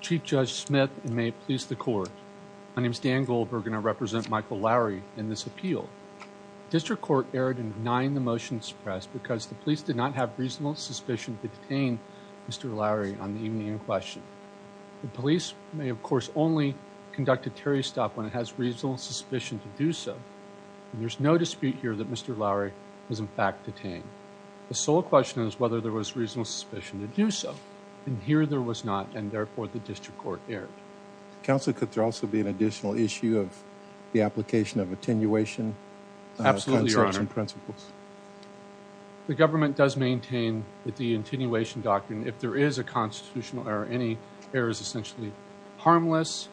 Chief Judge Smith and may it please the court. My name is Dan Goldberg and I represent Michael Lowry in this appeal. District Court erred in denying the motion to suppress because the police did not have reasonable suspicion to detain Mr. Lowry on the evening in question. The police may of course only conduct a Terry stop when it has reasonable suspicion to do so. There's no dispute here that Mr. Lowry was in fact detained. The sole question is whether there was reasonable suspicion to do so and here there was not and therefore the district court erred. Counselor could there also be an additional issue of the application of attenuation principles? The government does maintain that the attenuation doctrine if there is a constitutional error any error is essentially harmless.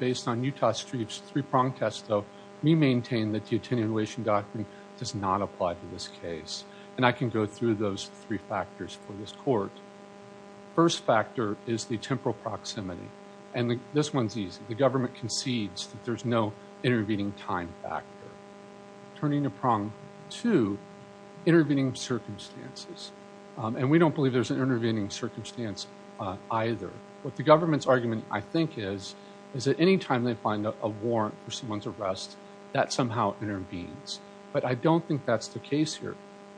Based on Utah Street's three-pronged test though we maintain that the attenuation doctrine does not apply to this case and I can go through those three factors for this court. First factor is the temporal proximity and this one's easy. The government concedes that there's no intervening time factor. Turning a prong to intervening circumstances and we don't believe there's an intervening circumstance either. What the government's argument I think is is that any time they find a warrant for someone's arrest that somehow intervenes but I don't think that's the case here.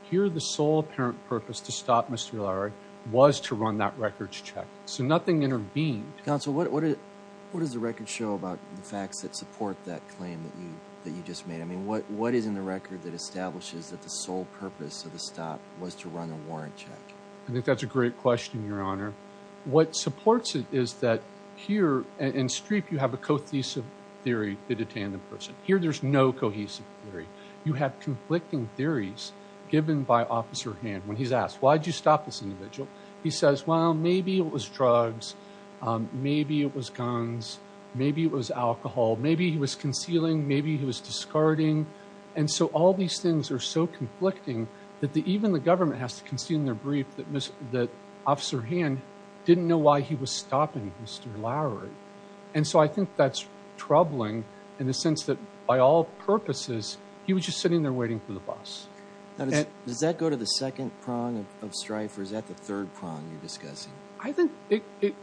Here the sole apparent purpose to stop Mr. Lowry was to run that records check so nothing intervened. Counsel what what what does the record show about the facts that support that claim that you that you just made? I mean what is in the record that establishes that the sole purpose of the stop was to run a warrant check? I think that's a great question your honor. What supports it is that here in Streep you have a cohesive theory that attained the person. Here there's no cohesive theory. You have conflicting theories given by officer Hand when he's asked why did you stop this individual he says well maybe it was drugs maybe it was guns maybe it was alcohol maybe he was concealing maybe he was guarding and so all these things are so conflicting that the even the government has to concede in their brief that officer Hand didn't know why he was stopping Mr. Lowry and so I think that's troubling in the sense that by all purposes he was just sitting there waiting for the bus. Does that go to the second prong of Strife or is that the third prong you're discussing? I think it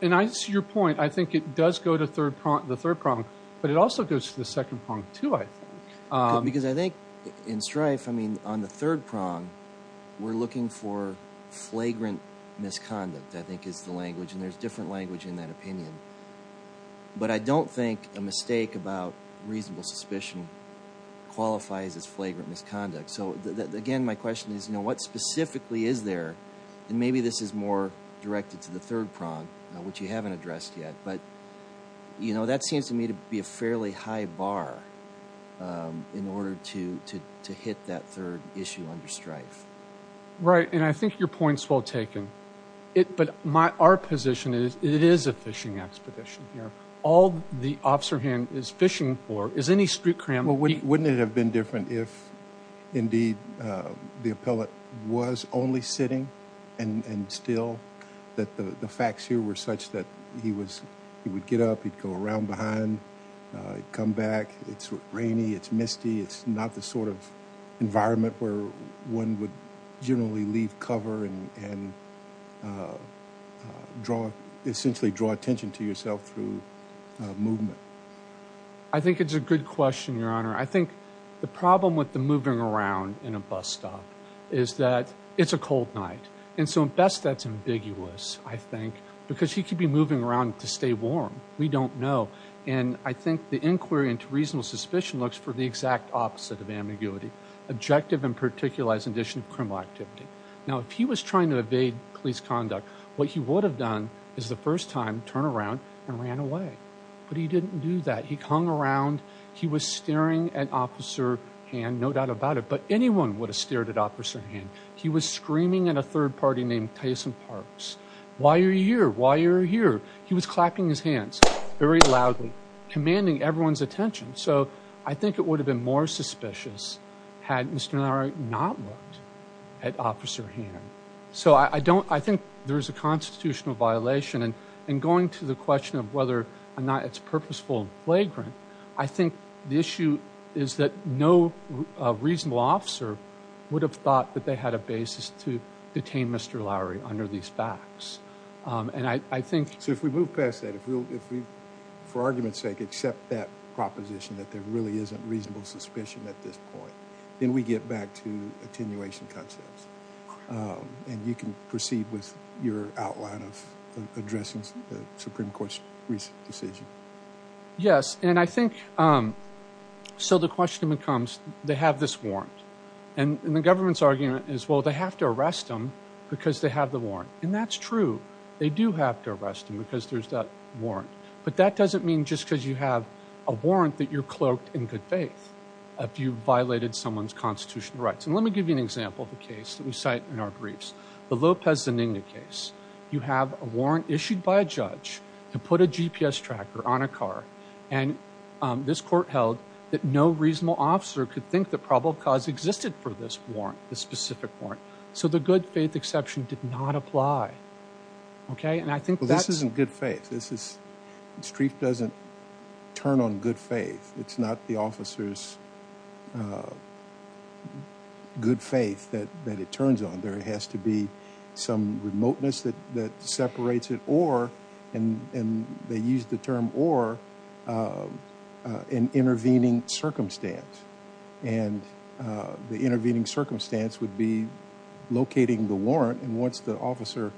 and I see your point I think it does go to third prong the third prong but it also goes to the second prong too I think. Because I think in Strife I mean on the third prong we're looking for flagrant misconduct I think is the language and there's different language in that opinion but I don't think a mistake about reasonable suspicion qualifies as flagrant misconduct so again my question is you know what specifically is there and maybe this is more directed to the third prong which you haven't addressed yet but you know that seems to me to be be a fairly high bar in order to to hit that third issue under Strife. Right and I think your point's well taken it but my our position is it is a fishing expedition here all the officer Hand is fishing for is any street cram. Well wouldn't it have been different if indeed the appellate was only sitting and and still that the the facts here were such that he was he would get up he'd go around behind come back it's rainy it's misty it's not the sort of environment where one would generally leave cover and and draw essentially draw attention to yourself through movement. I think it's a good question your honor I think the problem with the moving around in a bus stop is that it's a cold night and so at best that's ambiguous I think because he could be moving around to stay warm we don't know and I think the inquiry into reasonable suspicion looks for the exact opposite of ambiguity objective and particular as an addition of criminal activity. Now if he was trying to evade police conduct what he would have done is the first time turn around and ran away but he didn't do that he hung around he was staring at officer Hand no doubt about it but anyone would have stared at officer Hand he was screaming at a third party named Tyson Parks why are you here why you're here he was clapping his hands very loudly commanding everyone's attention so I think it would have been more suspicious had Mr. Lowery not looked at officer Hand. So I don't I think there's a constitutional violation and and going to the question of whether or not it's purposeful and flagrant I think the issue is that no reasonable officer would have thought that they had a basis to detain Mr. Lowery under these facts and I think so if we move past that if we'll if we for argument's sake accept that proposition that there really isn't reasonable suspicion at this point then we get back to attenuation concepts and you can proceed with your outline of addressing the Supreme Court's recent decision. Yes and I think so the question becomes they have this warrant and the government's argument is well they have to arrest them because they have the warrant and that's true they do have to arrest them because there's that warrant but that doesn't mean just because you have a warrant that you're cloaked in good faith if you violated someone's constitutional rights and let me give you an example of a case that we cite in our briefs the Lopez Zeninga case you have a warrant issued by a judge to put a GPS tracker on a car and this court held that no reasonable officer could think the probable cause existed for this warrant the specific warrant so the good faith exception did not apply okay and I think this isn't good faith this is the street doesn't turn on good faith it's not the officer's good faith that that it turns on there has to be some remoteness that that separates it or and and they use the term or an intervening circumstance and the intervening circumstance would be locating the warrant and once the officer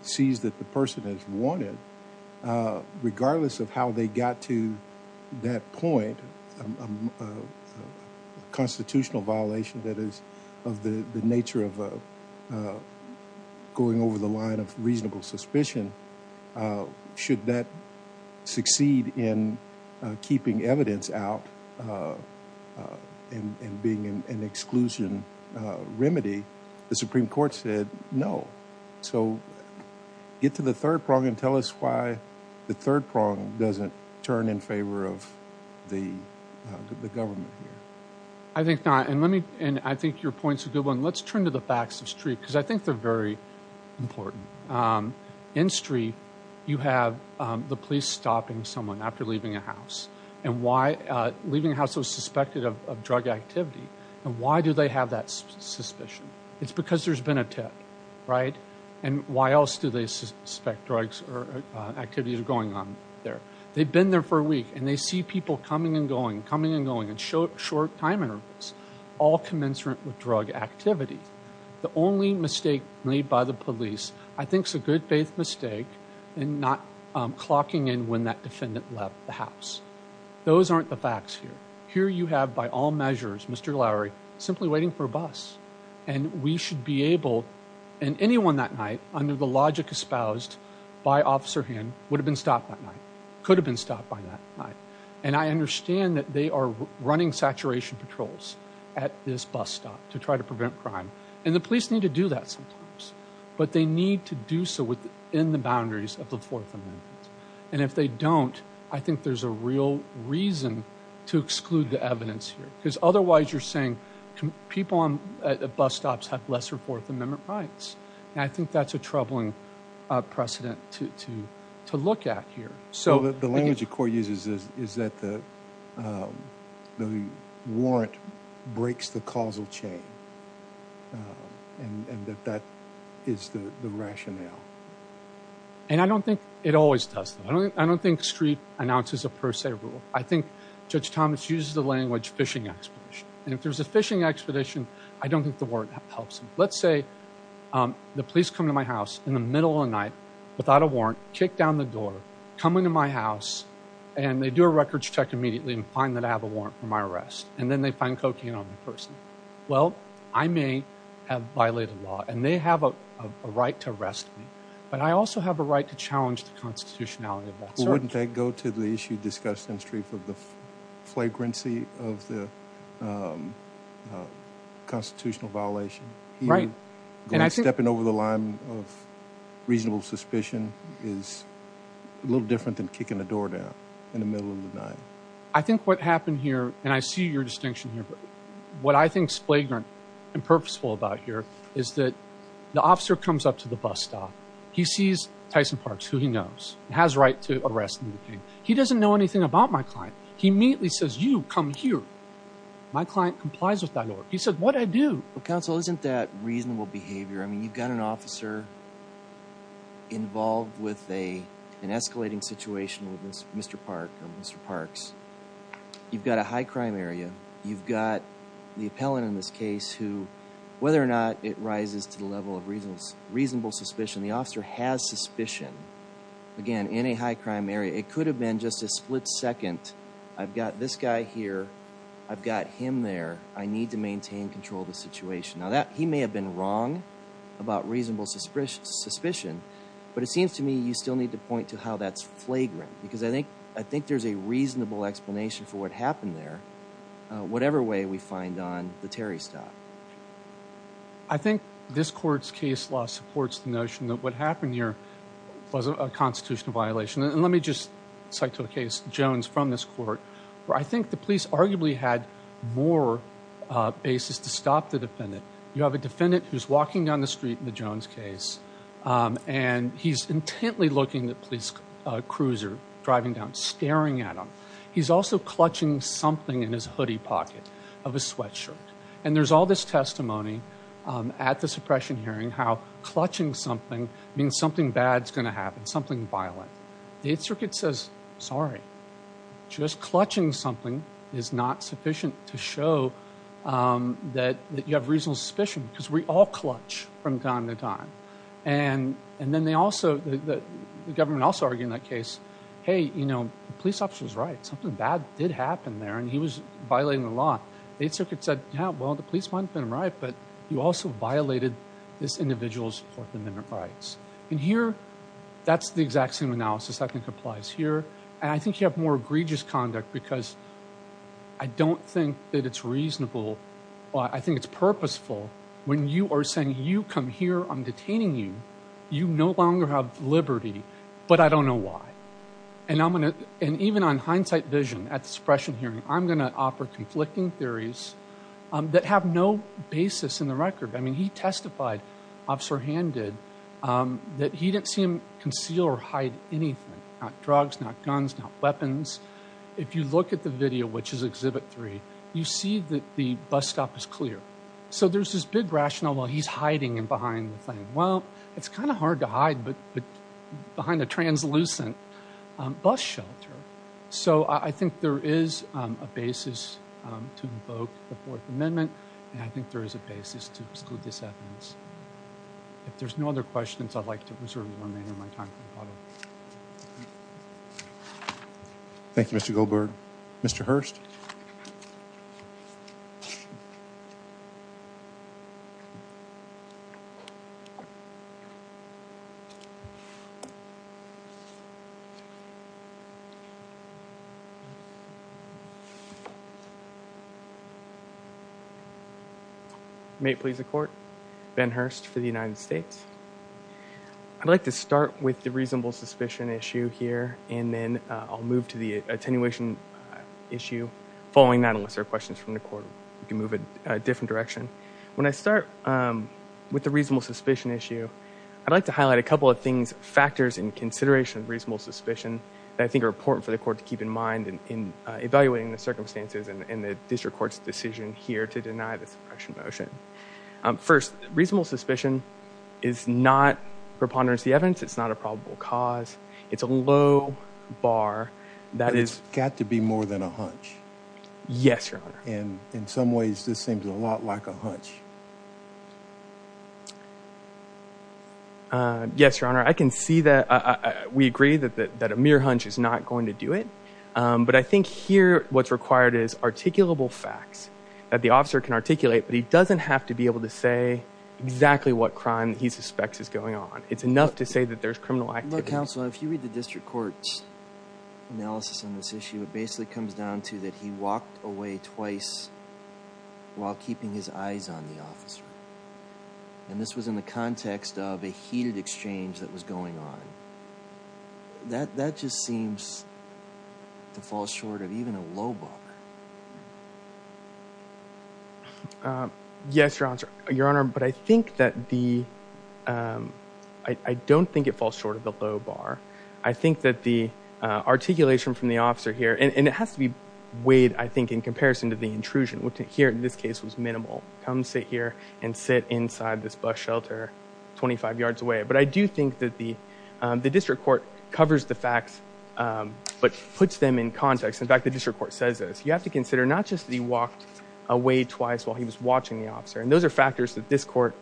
sees that the person has wanted regardless of how they got to that point a constitutional violation that is of the the should that succeed in keeping evidence out and being an exclusion remedy the supreme court said no so get to the third prong and tell us why the third prong doesn't turn in favor of the the government here I think not and let me and I think your point's a good one let's turn to facts of street because I think they're very important in street you have the police stopping someone after leaving a house and why leaving a house was suspected of drug activity and why do they have that suspicion it's because there's been a tip right and why else do they suspect drugs or activities are going on there they've been there for a week and they see people coming and going coming and going and short short time intervals all commensurate with drug activity the only mistake made by the police I think's a good faith mistake and not um clocking in when that defendant left the house those aren't the facts here here you have by all measures Mr. Lowry simply waiting for a bus and we should be able and anyone that night under the logic espoused by officer hand would have been stopped that night could have been stopped by that night and I understand that they are running saturation patrols at this bus stop to try to prevent crime and the police need to do that sometimes but they need to do so within the boundaries of the fourth amendment and if they don't I think there's a real reason to exclude the evidence here because otherwise you're saying people on bus stops have lesser fourth amendment rights and I think that's a troubling uh precedent to to to look at here so the language the court uses is is that the um the warrant breaks the causal chain and and that that is the the rationale and I don't think it always does that I don't I don't think street announces a per se rule I think Judge Thomas uses the language fishing expedition and if there's a fishing expedition I don't think the word helps him let's say um the police come to my house in the middle of the night without a warrant kick down the door come into my house and they do a records check immediately and find that I have a warrant for my arrest and then they find cocaine on the person well I may have violated law and they have a right to arrest me but I also have a right to challenge the constitutionality of that wouldn't they go to the issue discussed in the street for the flagrancy of the um constitutional violation right and I'm stepping over the line of reasonable suspicion is a little different than kicking the door down in the middle of the night I think what happened here and I see your distinction here but what I think's flagrant and purposeful about here is that the officer comes up to the bus stop he sees Tyson Parks who he knows has right to arrest me he doesn't know anything about my client he immediately says you come here my client complies with that order he said what I do well counsel isn't that reasonable behavior I mean you've got an officer involved with a an escalating situation with this Mr. Park and Mr. Parks you've got a high crime area you've got the appellant in this case who whether or not it rises to the level of reasons reasonable suspicion the officer has suspicion again in a high crime area it could have been just a split second I've got this guy here I've got him there I need to maintain control of the situation now that he may have been wrong about reasonable suspicion but it seems to me you still need to point to how that's flagrant because I think I think there's a reasonable explanation for what happened there whatever way we find on the Terry stop I think this court's case law supports the notion that what happened here was a constitutional violation and let me just cite to the case Jones from this court where I think the police arguably had more basis to stop the defendant you have a defendant who's walking down the street in the Jones case and he's intently looking at police cruiser driving down staring at him he's also clutching something in his hoodie pocket of a sweatshirt and there's all this testimony at the suppression hearing how clutching something means something bad's going to happen something violent the 8th circuit says sorry just clutching something is not sufficient to show um that that you have reasonable suspicion because we all clutch from time to time and and then they also the government also argue in that case hey you know the police officer was right something bad did happen there and he was violating the law the 8th circuit said yeah well the police might have been right but you also violated this individual's fourth amendment rights and here that's the exact same analysis I think applies here and I think you have more egregious conduct because I don't think that it's reasonable well I think it's purposeful when you are saying you come here I'm detaining you you no longer have liberty but I don't know why and I'm going to and even on hindsight vision at the suppression hearing I'm going to offer conflicting theories that have no basis in the record I mean he testified officer hand did that he didn't see him conceal or hide anything not drugs not guns not weapons if you look at the video which is exhibit three you see that the bus stop is clear so there's this big rationale while he's hiding and behind the thing well it's kind of hard to hide but behind the translucent bus shelter so I think there is a basis to invoke the fourth amendment and I think there is a basis to exclude this evidence if there's no other questions I'd like to reserve the remainder of time. May it please the court Ben Hurst for the United States I'd like to start with the reasonable suspicion issue here and then I'll move to the attenuation issue following that unless there are questions from the court you can move in a different direction when I start with the reasonable suspicion issue I'd like to highlight a couple of things factors in consideration of reasonable suspicion that I think are important for the court to keep in mind in evaluating the circumstances and in the district court's decision here to deny the suppression motion first reasonable suspicion is not preponderance the evidence it's not a probable cause it's a low bar that is got to be more than a hunch yes your honor and in some ways this seems a lot like a hunch uh yes your honor I can see that we agree that that a mere hunch is not going to do it but I think here what's required is articulable facts that the officer can articulate but he doesn't have to be able to say exactly what crime he suspects is going on it's enough to say that there's criminal activity. Counsel if you read the district court's analysis on this issue it basically comes down to that he walked away twice while keeping his eyes on the officer and this was in the context of a heated exchange that was going on that that just seems to fall short of even a low bar um yes your honor your honor but I think that the um I don't think it falls short of the low bar I think that the uh articulation from the officer here and it has to be weighed I think in comparison to the intrusion which here in this case was minimal come sit here and sit inside this bus shelter 25 yards away but I do think that the um the district court covers the facts um but puts them in context in fact the district court says this you have to consider not just that he walked away twice while he was watching the officer and those are factors that this court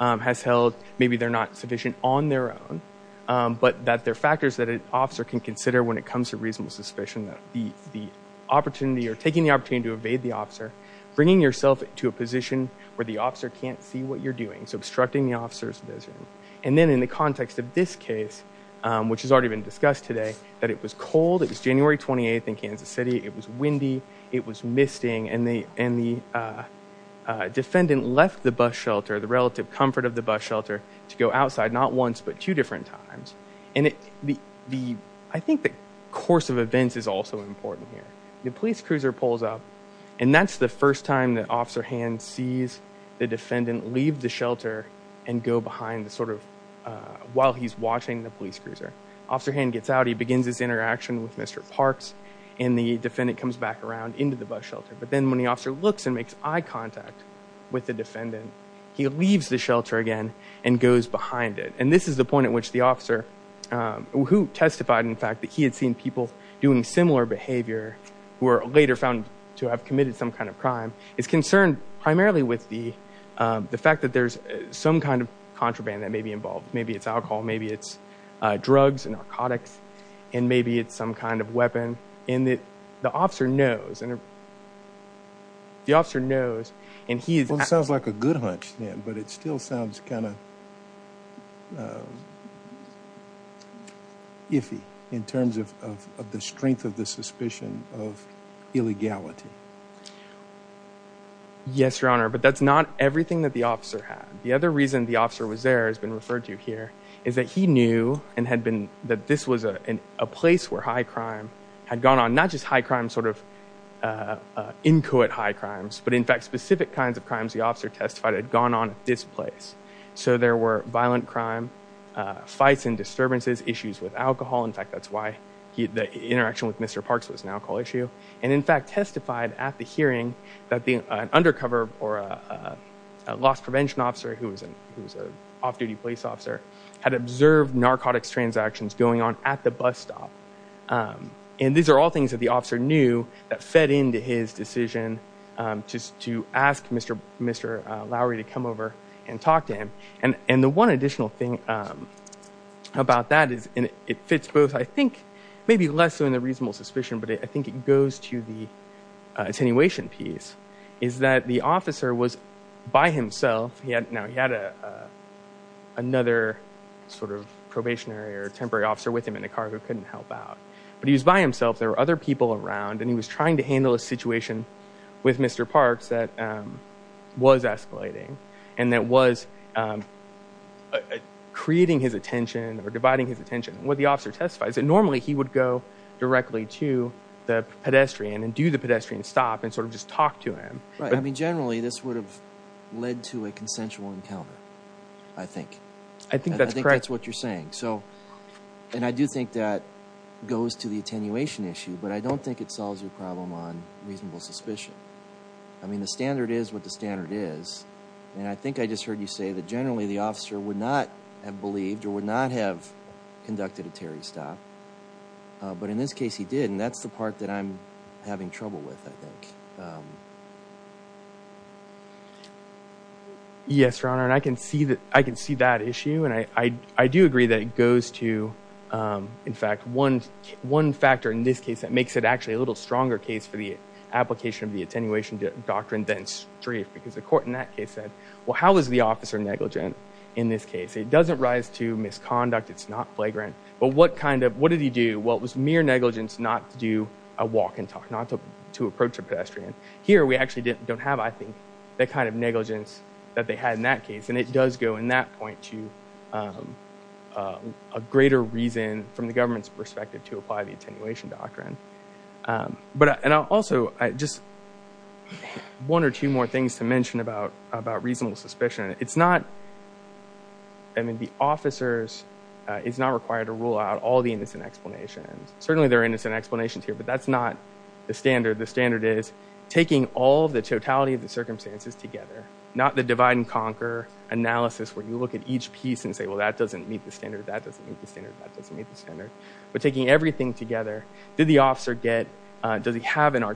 um has held maybe they're not sufficient on their own um but that they're factors that an officer can consider when it comes to reasonable suspicion the the opportunity or taking the opportunity to evade the officer bringing yourself to a position where the officer can't see what you're doing so obstructing the officer's vision and then in the context of this case um which has already been discussed today that it was cold it was January 28th in Kansas City it was windy it was misting and they and the uh defendant left the bus shelter the relative comfort of the bus shelter to go outside not once but two different times and it the the I think the course of events is also important here the police cruiser pulls up and that's the first time that officer hand sees the defendant leave the shelter and go behind the sort of uh while he's watching the police cruiser officer hand gets out he begins his interaction with Mr. Parks and the defendant comes back around into the bus shelter but then when the officer looks and makes eye contact with the defendant he leaves the shelter again and goes behind it and this is the point at which the officer who testified in fact that he had seen people doing similar behavior who are later found to have committed some kind of crime is concerned primarily with the the fact that there's some kind of contraband that may be involved maybe it's alcohol maybe it's drugs and narcotics and maybe it's some kind of weapon and that the officer knows and the officer knows and he sounds like a good hunch then but it still sounds kind of iffy in terms of of the strength of the suspicion of illegality yes your honor but that's not everything that the officer had the other reason the officer was there has been referred to here is that he knew and had been that this was a place where high crime had gone on not just high crime sort of uh inchoate high crimes but in fact specific kinds of crimes the officer testified had gone on at this place so there were violent crime uh fights and disturbances issues with alcohol in fact that's why he the interaction with Mr. Parks was an alcohol issue and in fact testified at the hearing that the undercover or a loss prevention officer who was an who was an off-duty police officer had observed narcotics transactions going on at the bus stop and these are all things that the officer knew that fed into his decision just to ask Mr. Mr. Lowry to come over and talk to him and and the one additional thing about that is and it fits both I think maybe less than the reasonable suspicion but I think it goes to the attenuation piece is that the officer was by himself he had now he had a another sort of probationary or temporary officer with him in a car who couldn't help out but he was by himself there were other people around and he was trying to handle a situation with Mr. Parks that was escalating and that was creating his attention or dividing his attention what the officer testifies that normally he would go directly to the pedestrian and do the pedestrian stop and sort of just talk to him right I mean generally this would have led to a consensual encounter I think I think that's correct that's what you're saying so and I do think that goes to the attenuation issue but I don't think it solves your problem on reasonable suspicion I mean the standard is what the standard is and I think I just heard you say that generally the officer would not have believed or would not have conducted a Terry stop but in this case he did and that's the part that I'm having trouble with I think yes your honor and I can see that I can see that issue and I I do agree that it goes to in fact one one factor in this case that makes it actually a little stronger case for the application of the attenuation doctrine than strafe because the court in that case said well how is the officer negligent in this case it doesn't rise to misconduct it's not flagrant but what kind of what did he do well it was mere negligence not to do a walk and talk not to approach a pedestrian here we actually didn't don't have I think that kind of negligence that they had in that case and it does go in that point to a greater reason from the government's perspective to apply the attenuation doctrine but and I'll also I just one or two more things to it's not I mean the officers is not required to rule out all the innocent explanations certainly there are innocent explanations here but that's not the standard the standard is taking all the totality of the circumstances together not the divide and conquer analysis where you look at each piece and say well that doesn't meet the standard that doesn't meet the standard that doesn't meet the standard but taking everything together did the officer get does he have an and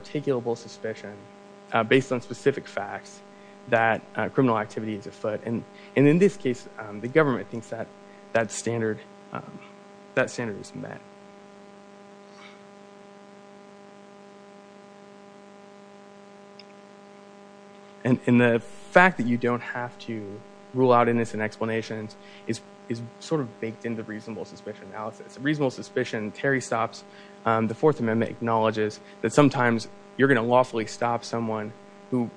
in this case the government thinks that that standard that standard is met and in the fact that you don't have to rule out innocent explanations is is sort of baked into reasonable suspicion analysis reasonable suspicion Terry stops the fourth amendment acknowledges that sometimes you're going to lawfully stop someone who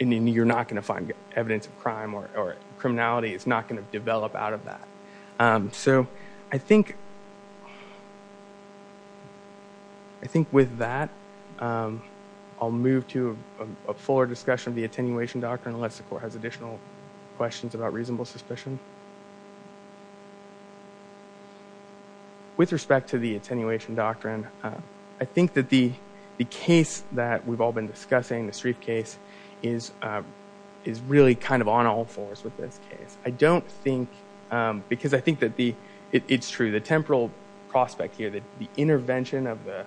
and you're not going to find evidence of crime or criminality it's not going to develop out of that so I think I think with that I'll move to a fuller discussion of the attenuation doctrine unless the court has additional questions about reasonable suspicion with respect to the attenuation doctrine I think that the is really kind of on all fours with this case I don't think because I think that the it's true the temporal prospect here that the intervention of the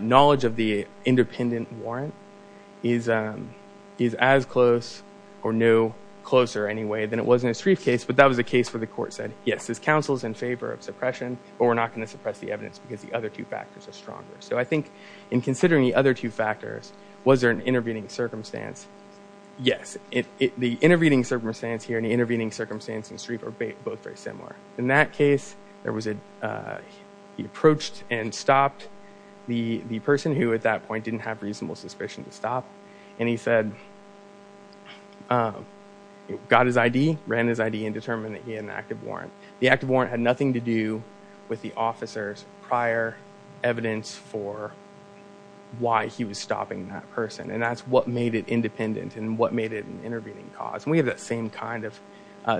knowledge of the independent warrant is is as close or no closer anyway than it was in his briefcase but that was a case where the court said yes this council is in favor of suppression but we're not going to suppress the evidence because the other two factors are stronger so I think in considering the other two factors was there intervening circumstance yes it the intervening circumstance here in the intervening circumstance and street are both very similar in that case there was a he approached and stopped the the person who at that point didn't have reasonable suspicion to stop and he said got his id ran his id and determined that he had an active warrant the active warrant had nothing to that's what made it independent and what made it an intervening cause we have that same kind of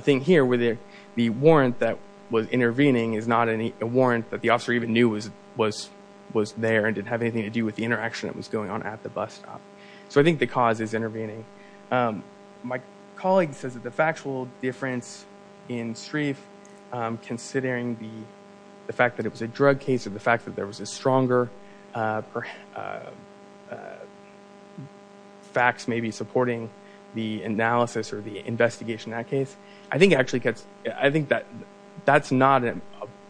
thing here where there the warrant that was intervening is not any warrant that the officer even knew was was was there and didn't have anything to do with the interaction that was going on at the bus stop so I think the cause is intervening my colleague says that the factual difference in streif considering the the fact that it was a drug case of the fact that there was a stronger facts maybe supporting the analysis or the investigation that case I think actually gets I think that that's not a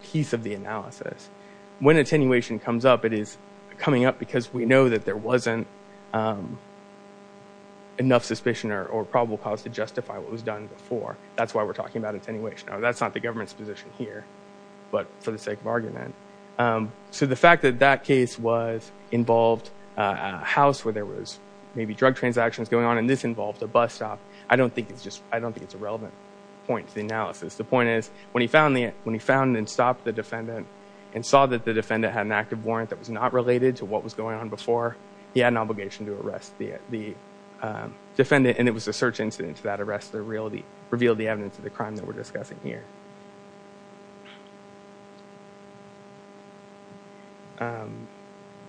piece of the analysis when attenuation comes up it is coming up because we know that there wasn't enough suspicion or probable cause to justify what was done before that's why we're talking about attenuation oh that's not the government's position here but for the sake of argument so the fact that that case was involved a house where there was maybe drug transactions going on and this involved a bus stop I don't think it's just I don't think it's a relevant point to the analysis the point is when he found the when he found and stopped the defendant and saw that the defendant had an active warrant that was not related to what was going on before he had an obligation to arrest the the defendant and it was a search incident to that reveal the evidence of the crime that we're discussing here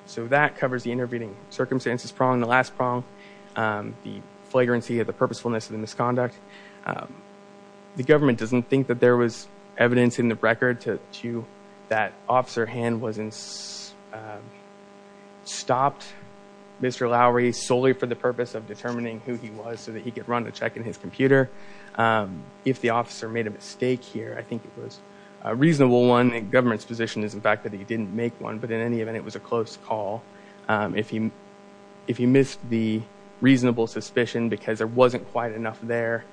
so that covers the intervening circumstances prong the last prong the flagrancy of the purposefulness of the misconduct the government doesn't think that there was evidence in the record to to that officer hand wasn't stopped Mr. Lowry solely for the purpose of determining who he was so that he could run a check in his computer if the officer made a mistake here I think it was a reasonable one the government's position is in fact that he didn't make one but in any event it was a close call if he if he missed the reasonable suspicion because there wasn't quite enough there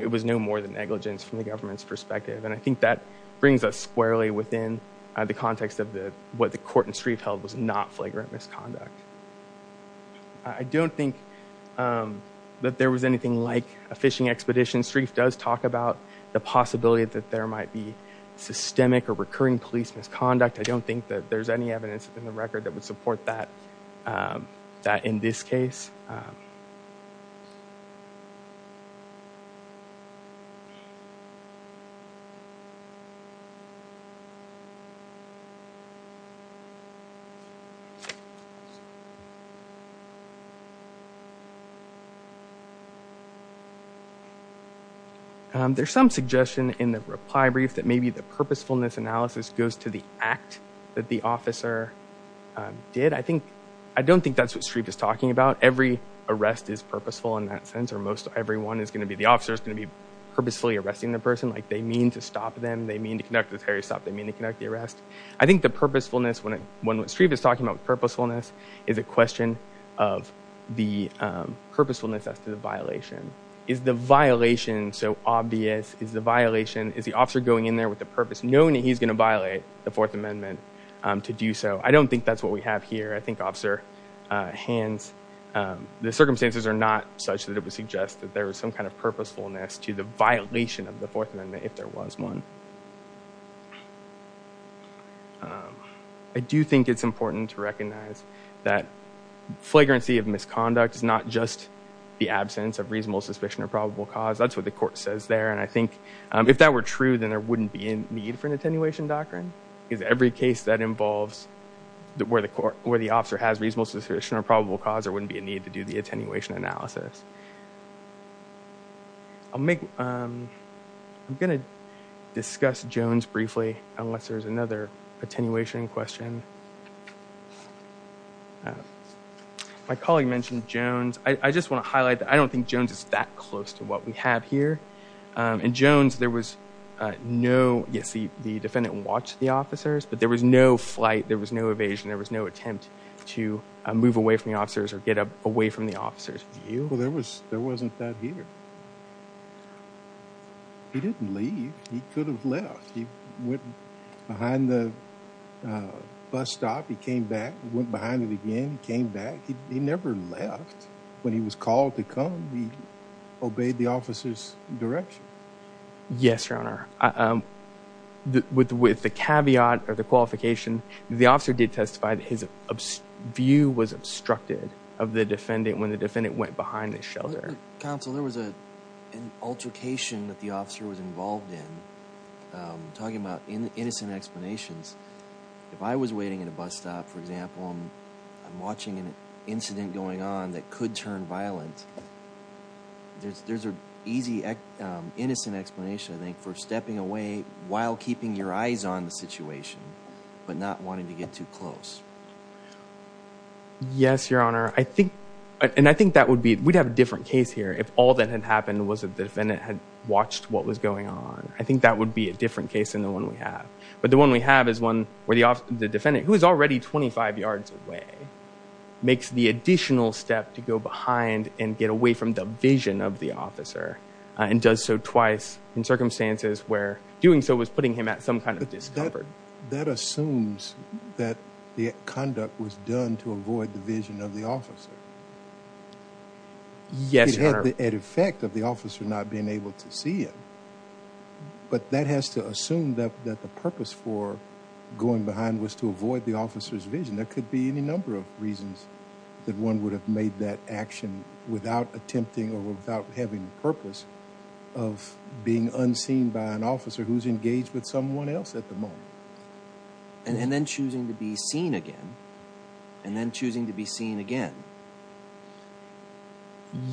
it was no more than negligence from the government's perspective and I think that brings us squarely within the context of the what the court and Sreef held was not flagrant misconduct I don't think that there was anything like a fishing expedition Sreef does talk about the possibility that there might be systemic or recurring police misconduct I don't think that there's any evidence in the record that would suggest that there's some suggestion in the reply brief that maybe the purposefulness analysis goes to the act that the officer did I think I don't think that's what Sreef is talking about every arrest is purposeful in that sense or most everyone is going to be the officer is going to be purposefully arresting the person like they mean to stop them they mean to connect with Harry they mean to connect the arrest I think the purposefulness when it when Sreef is talking about purposefulness is a question of the purposefulness as to the violation is the violation so obvious is the violation is the officer going in there with the purpose knowing that he's going to violate the fourth amendment to do so I don't think that's what we have here I think officer hands the circumstances are not such that it would suggest that there was some kind of purposefulness to the violation of the fourth amendment if there was one I do think it's important to recognize that flagrancy of misconduct is not just the absence of reasonable suspicion or probable cause that's what the court says there and I think if that were true then there wouldn't be a need for an attenuation doctrine because every case that involves that where the court where the officer has reasonable suspicion or probable cause there wouldn't be a need to do the attenuation analysis I'll make I'm gonna discuss Jones briefly unless there's another attenuation question my colleague mentioned Jones I just want to highlight that I don't think Jones is that close to what we have here and Jones there was no yes the defendant watched the officers but there was no flight there was no evasion there was no attempt to move away from the officers or get up away from the officers you well there was there wasn't that here he didn't leave he could have left he went behind the bus stop he came back went behind it again he came back he never left when he was called to come he obeyed the officer's direction yes your honor um with with the caveat or the qualification the officer did testify that his view was obstructed of the defendant when the defendant went behind the shelter counsel there was a an altercation that the officer was involved in talking about innocent explanations if I was waiting at a bus stop for example I'm watching an incident going on that could turn violent there's there's a easy innocent explanation I think for stepping away while keeping your eyes on the situation but not wanting to get too close yes your honor I think and I think that would be we'd have a different case here if all that had happened was that the defendant had watched what was going on I think that would be a different case than the one we have but the one we have is one where the officer the defendant who is already 25 yards away makes the additional step to go behind and get away from the vision of the officer and does so twice in circumstances where doing so was that assumes that the conduct was done to avoid the vision of the officer yes at effect of the officer not being able to see it but that has to assume that that the purpose for going behind was to avoid the officer's vision there could be any number of reasons that one would have made that action without attempting or without having the purpose of being unseen by an officer who's engaged with someone else at the moment and then choosing to be seen again and then choosing to be seen again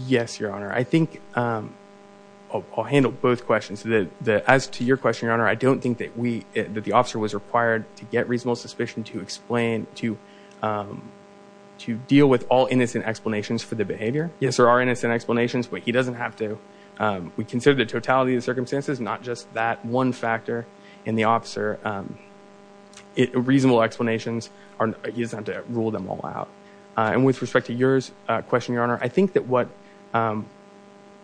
yes your honor I think I'll handle both questions that as to your question your honor I don't think that we that the officer was required to get reasonable suspicion to explain to to deal with all innocent explanations for the behavior yes there are innocent explanations but he doesn't have to we consider the totality of the circumstances not just that one factor in the officer it reasonable explanations are he doesn't have to rule them all out and with respect to yours question your honor I think that what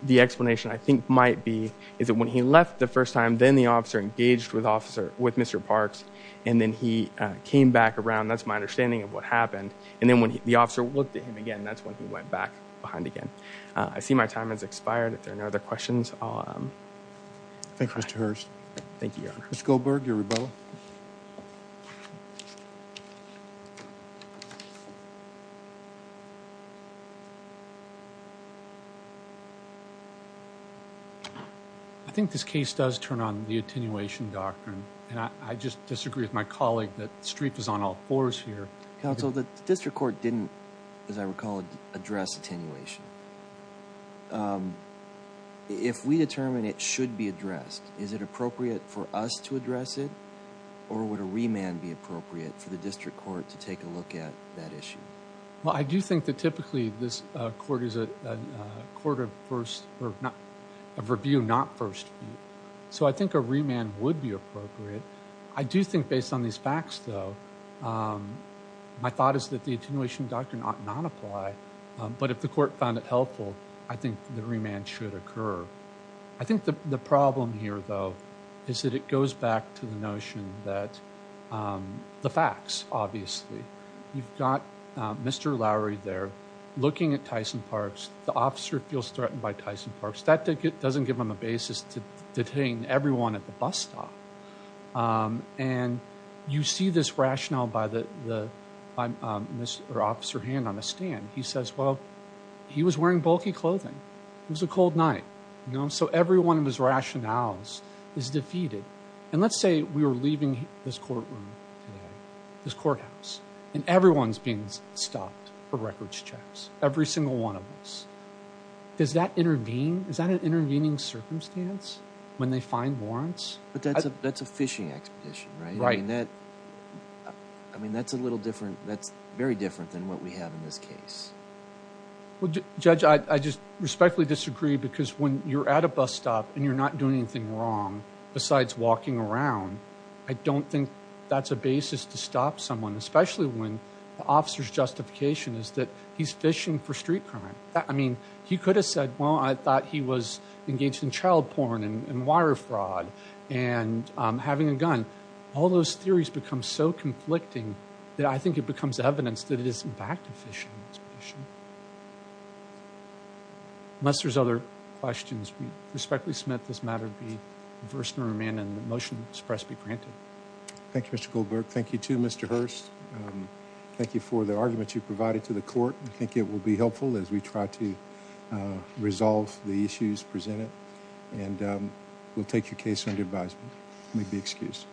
the explanation I think might be is that when he left the first time then the officer engaged with officer with Mr. Parks and then he came back around that's my understanding of what happened and then when the officer looked at him again that's when he went back behind again I see my time has expired if there are no other questions I'll um thank you Mr. Hearst thank you your honor Mr. Goldberg your rebuttal I think this case does turn on the attenuation doctrine and I just disagree with my colleague that Streep is on all fours here counsel the district court didn't as I recall address attenuation if we determine it should be addressed is it appropriate for us to address it or would a remand be appropriate for the district court to take a look at that issue well I do think that typically this uh court is a court of first or not of review not first so I think a remand would be appropriate I do think based on these facts though um my thought is that the attenuation doctrine ought not apply but if the court found it helpful I think the remand should occur I think the problem here though is that it goes back to the notion that um the facts obviously you've got Mr. Lowry there looking at Tyson Parks the officer feels threatened by Tyson Parks that doesn't give him a basis to detain everyone at the bus stop um and you see this rationale by the the um officer hand on a stand he says well he was wearing bulky clothing it was a cold night you know so every one of his rationales is defeated and let's say we were leaving this courtroom this courthouse and everyone's being stopped for records checks every single one of us does that intervene is that an intervening circumstance when they find warrants but that's a that's a fishing expedition right I mean that I mean that's a little different that's very different than what we have in this case well judge I just respectfully disagree because when you're at a bus stop and you're not doing anything wrong besides walking around I don't think that's a basis to stop someone especially when the officer's justification is that he's fishing for street crime I mean he could have said well I thought he was engaged in child porn and wire fraud and um having a gun all those theories become so conflicting that I think it becomes evidence that it is in fact efficient unless there's other questions we respectfully submit this matter be reversed and remanded the motion expressed be granted thank you Mr. Goldberg thank you too Mr. Hurst thank you for the argument you provided to the court I think it will be helpful as we try to resolve the issues presented and we'll take your case under advisement may be excused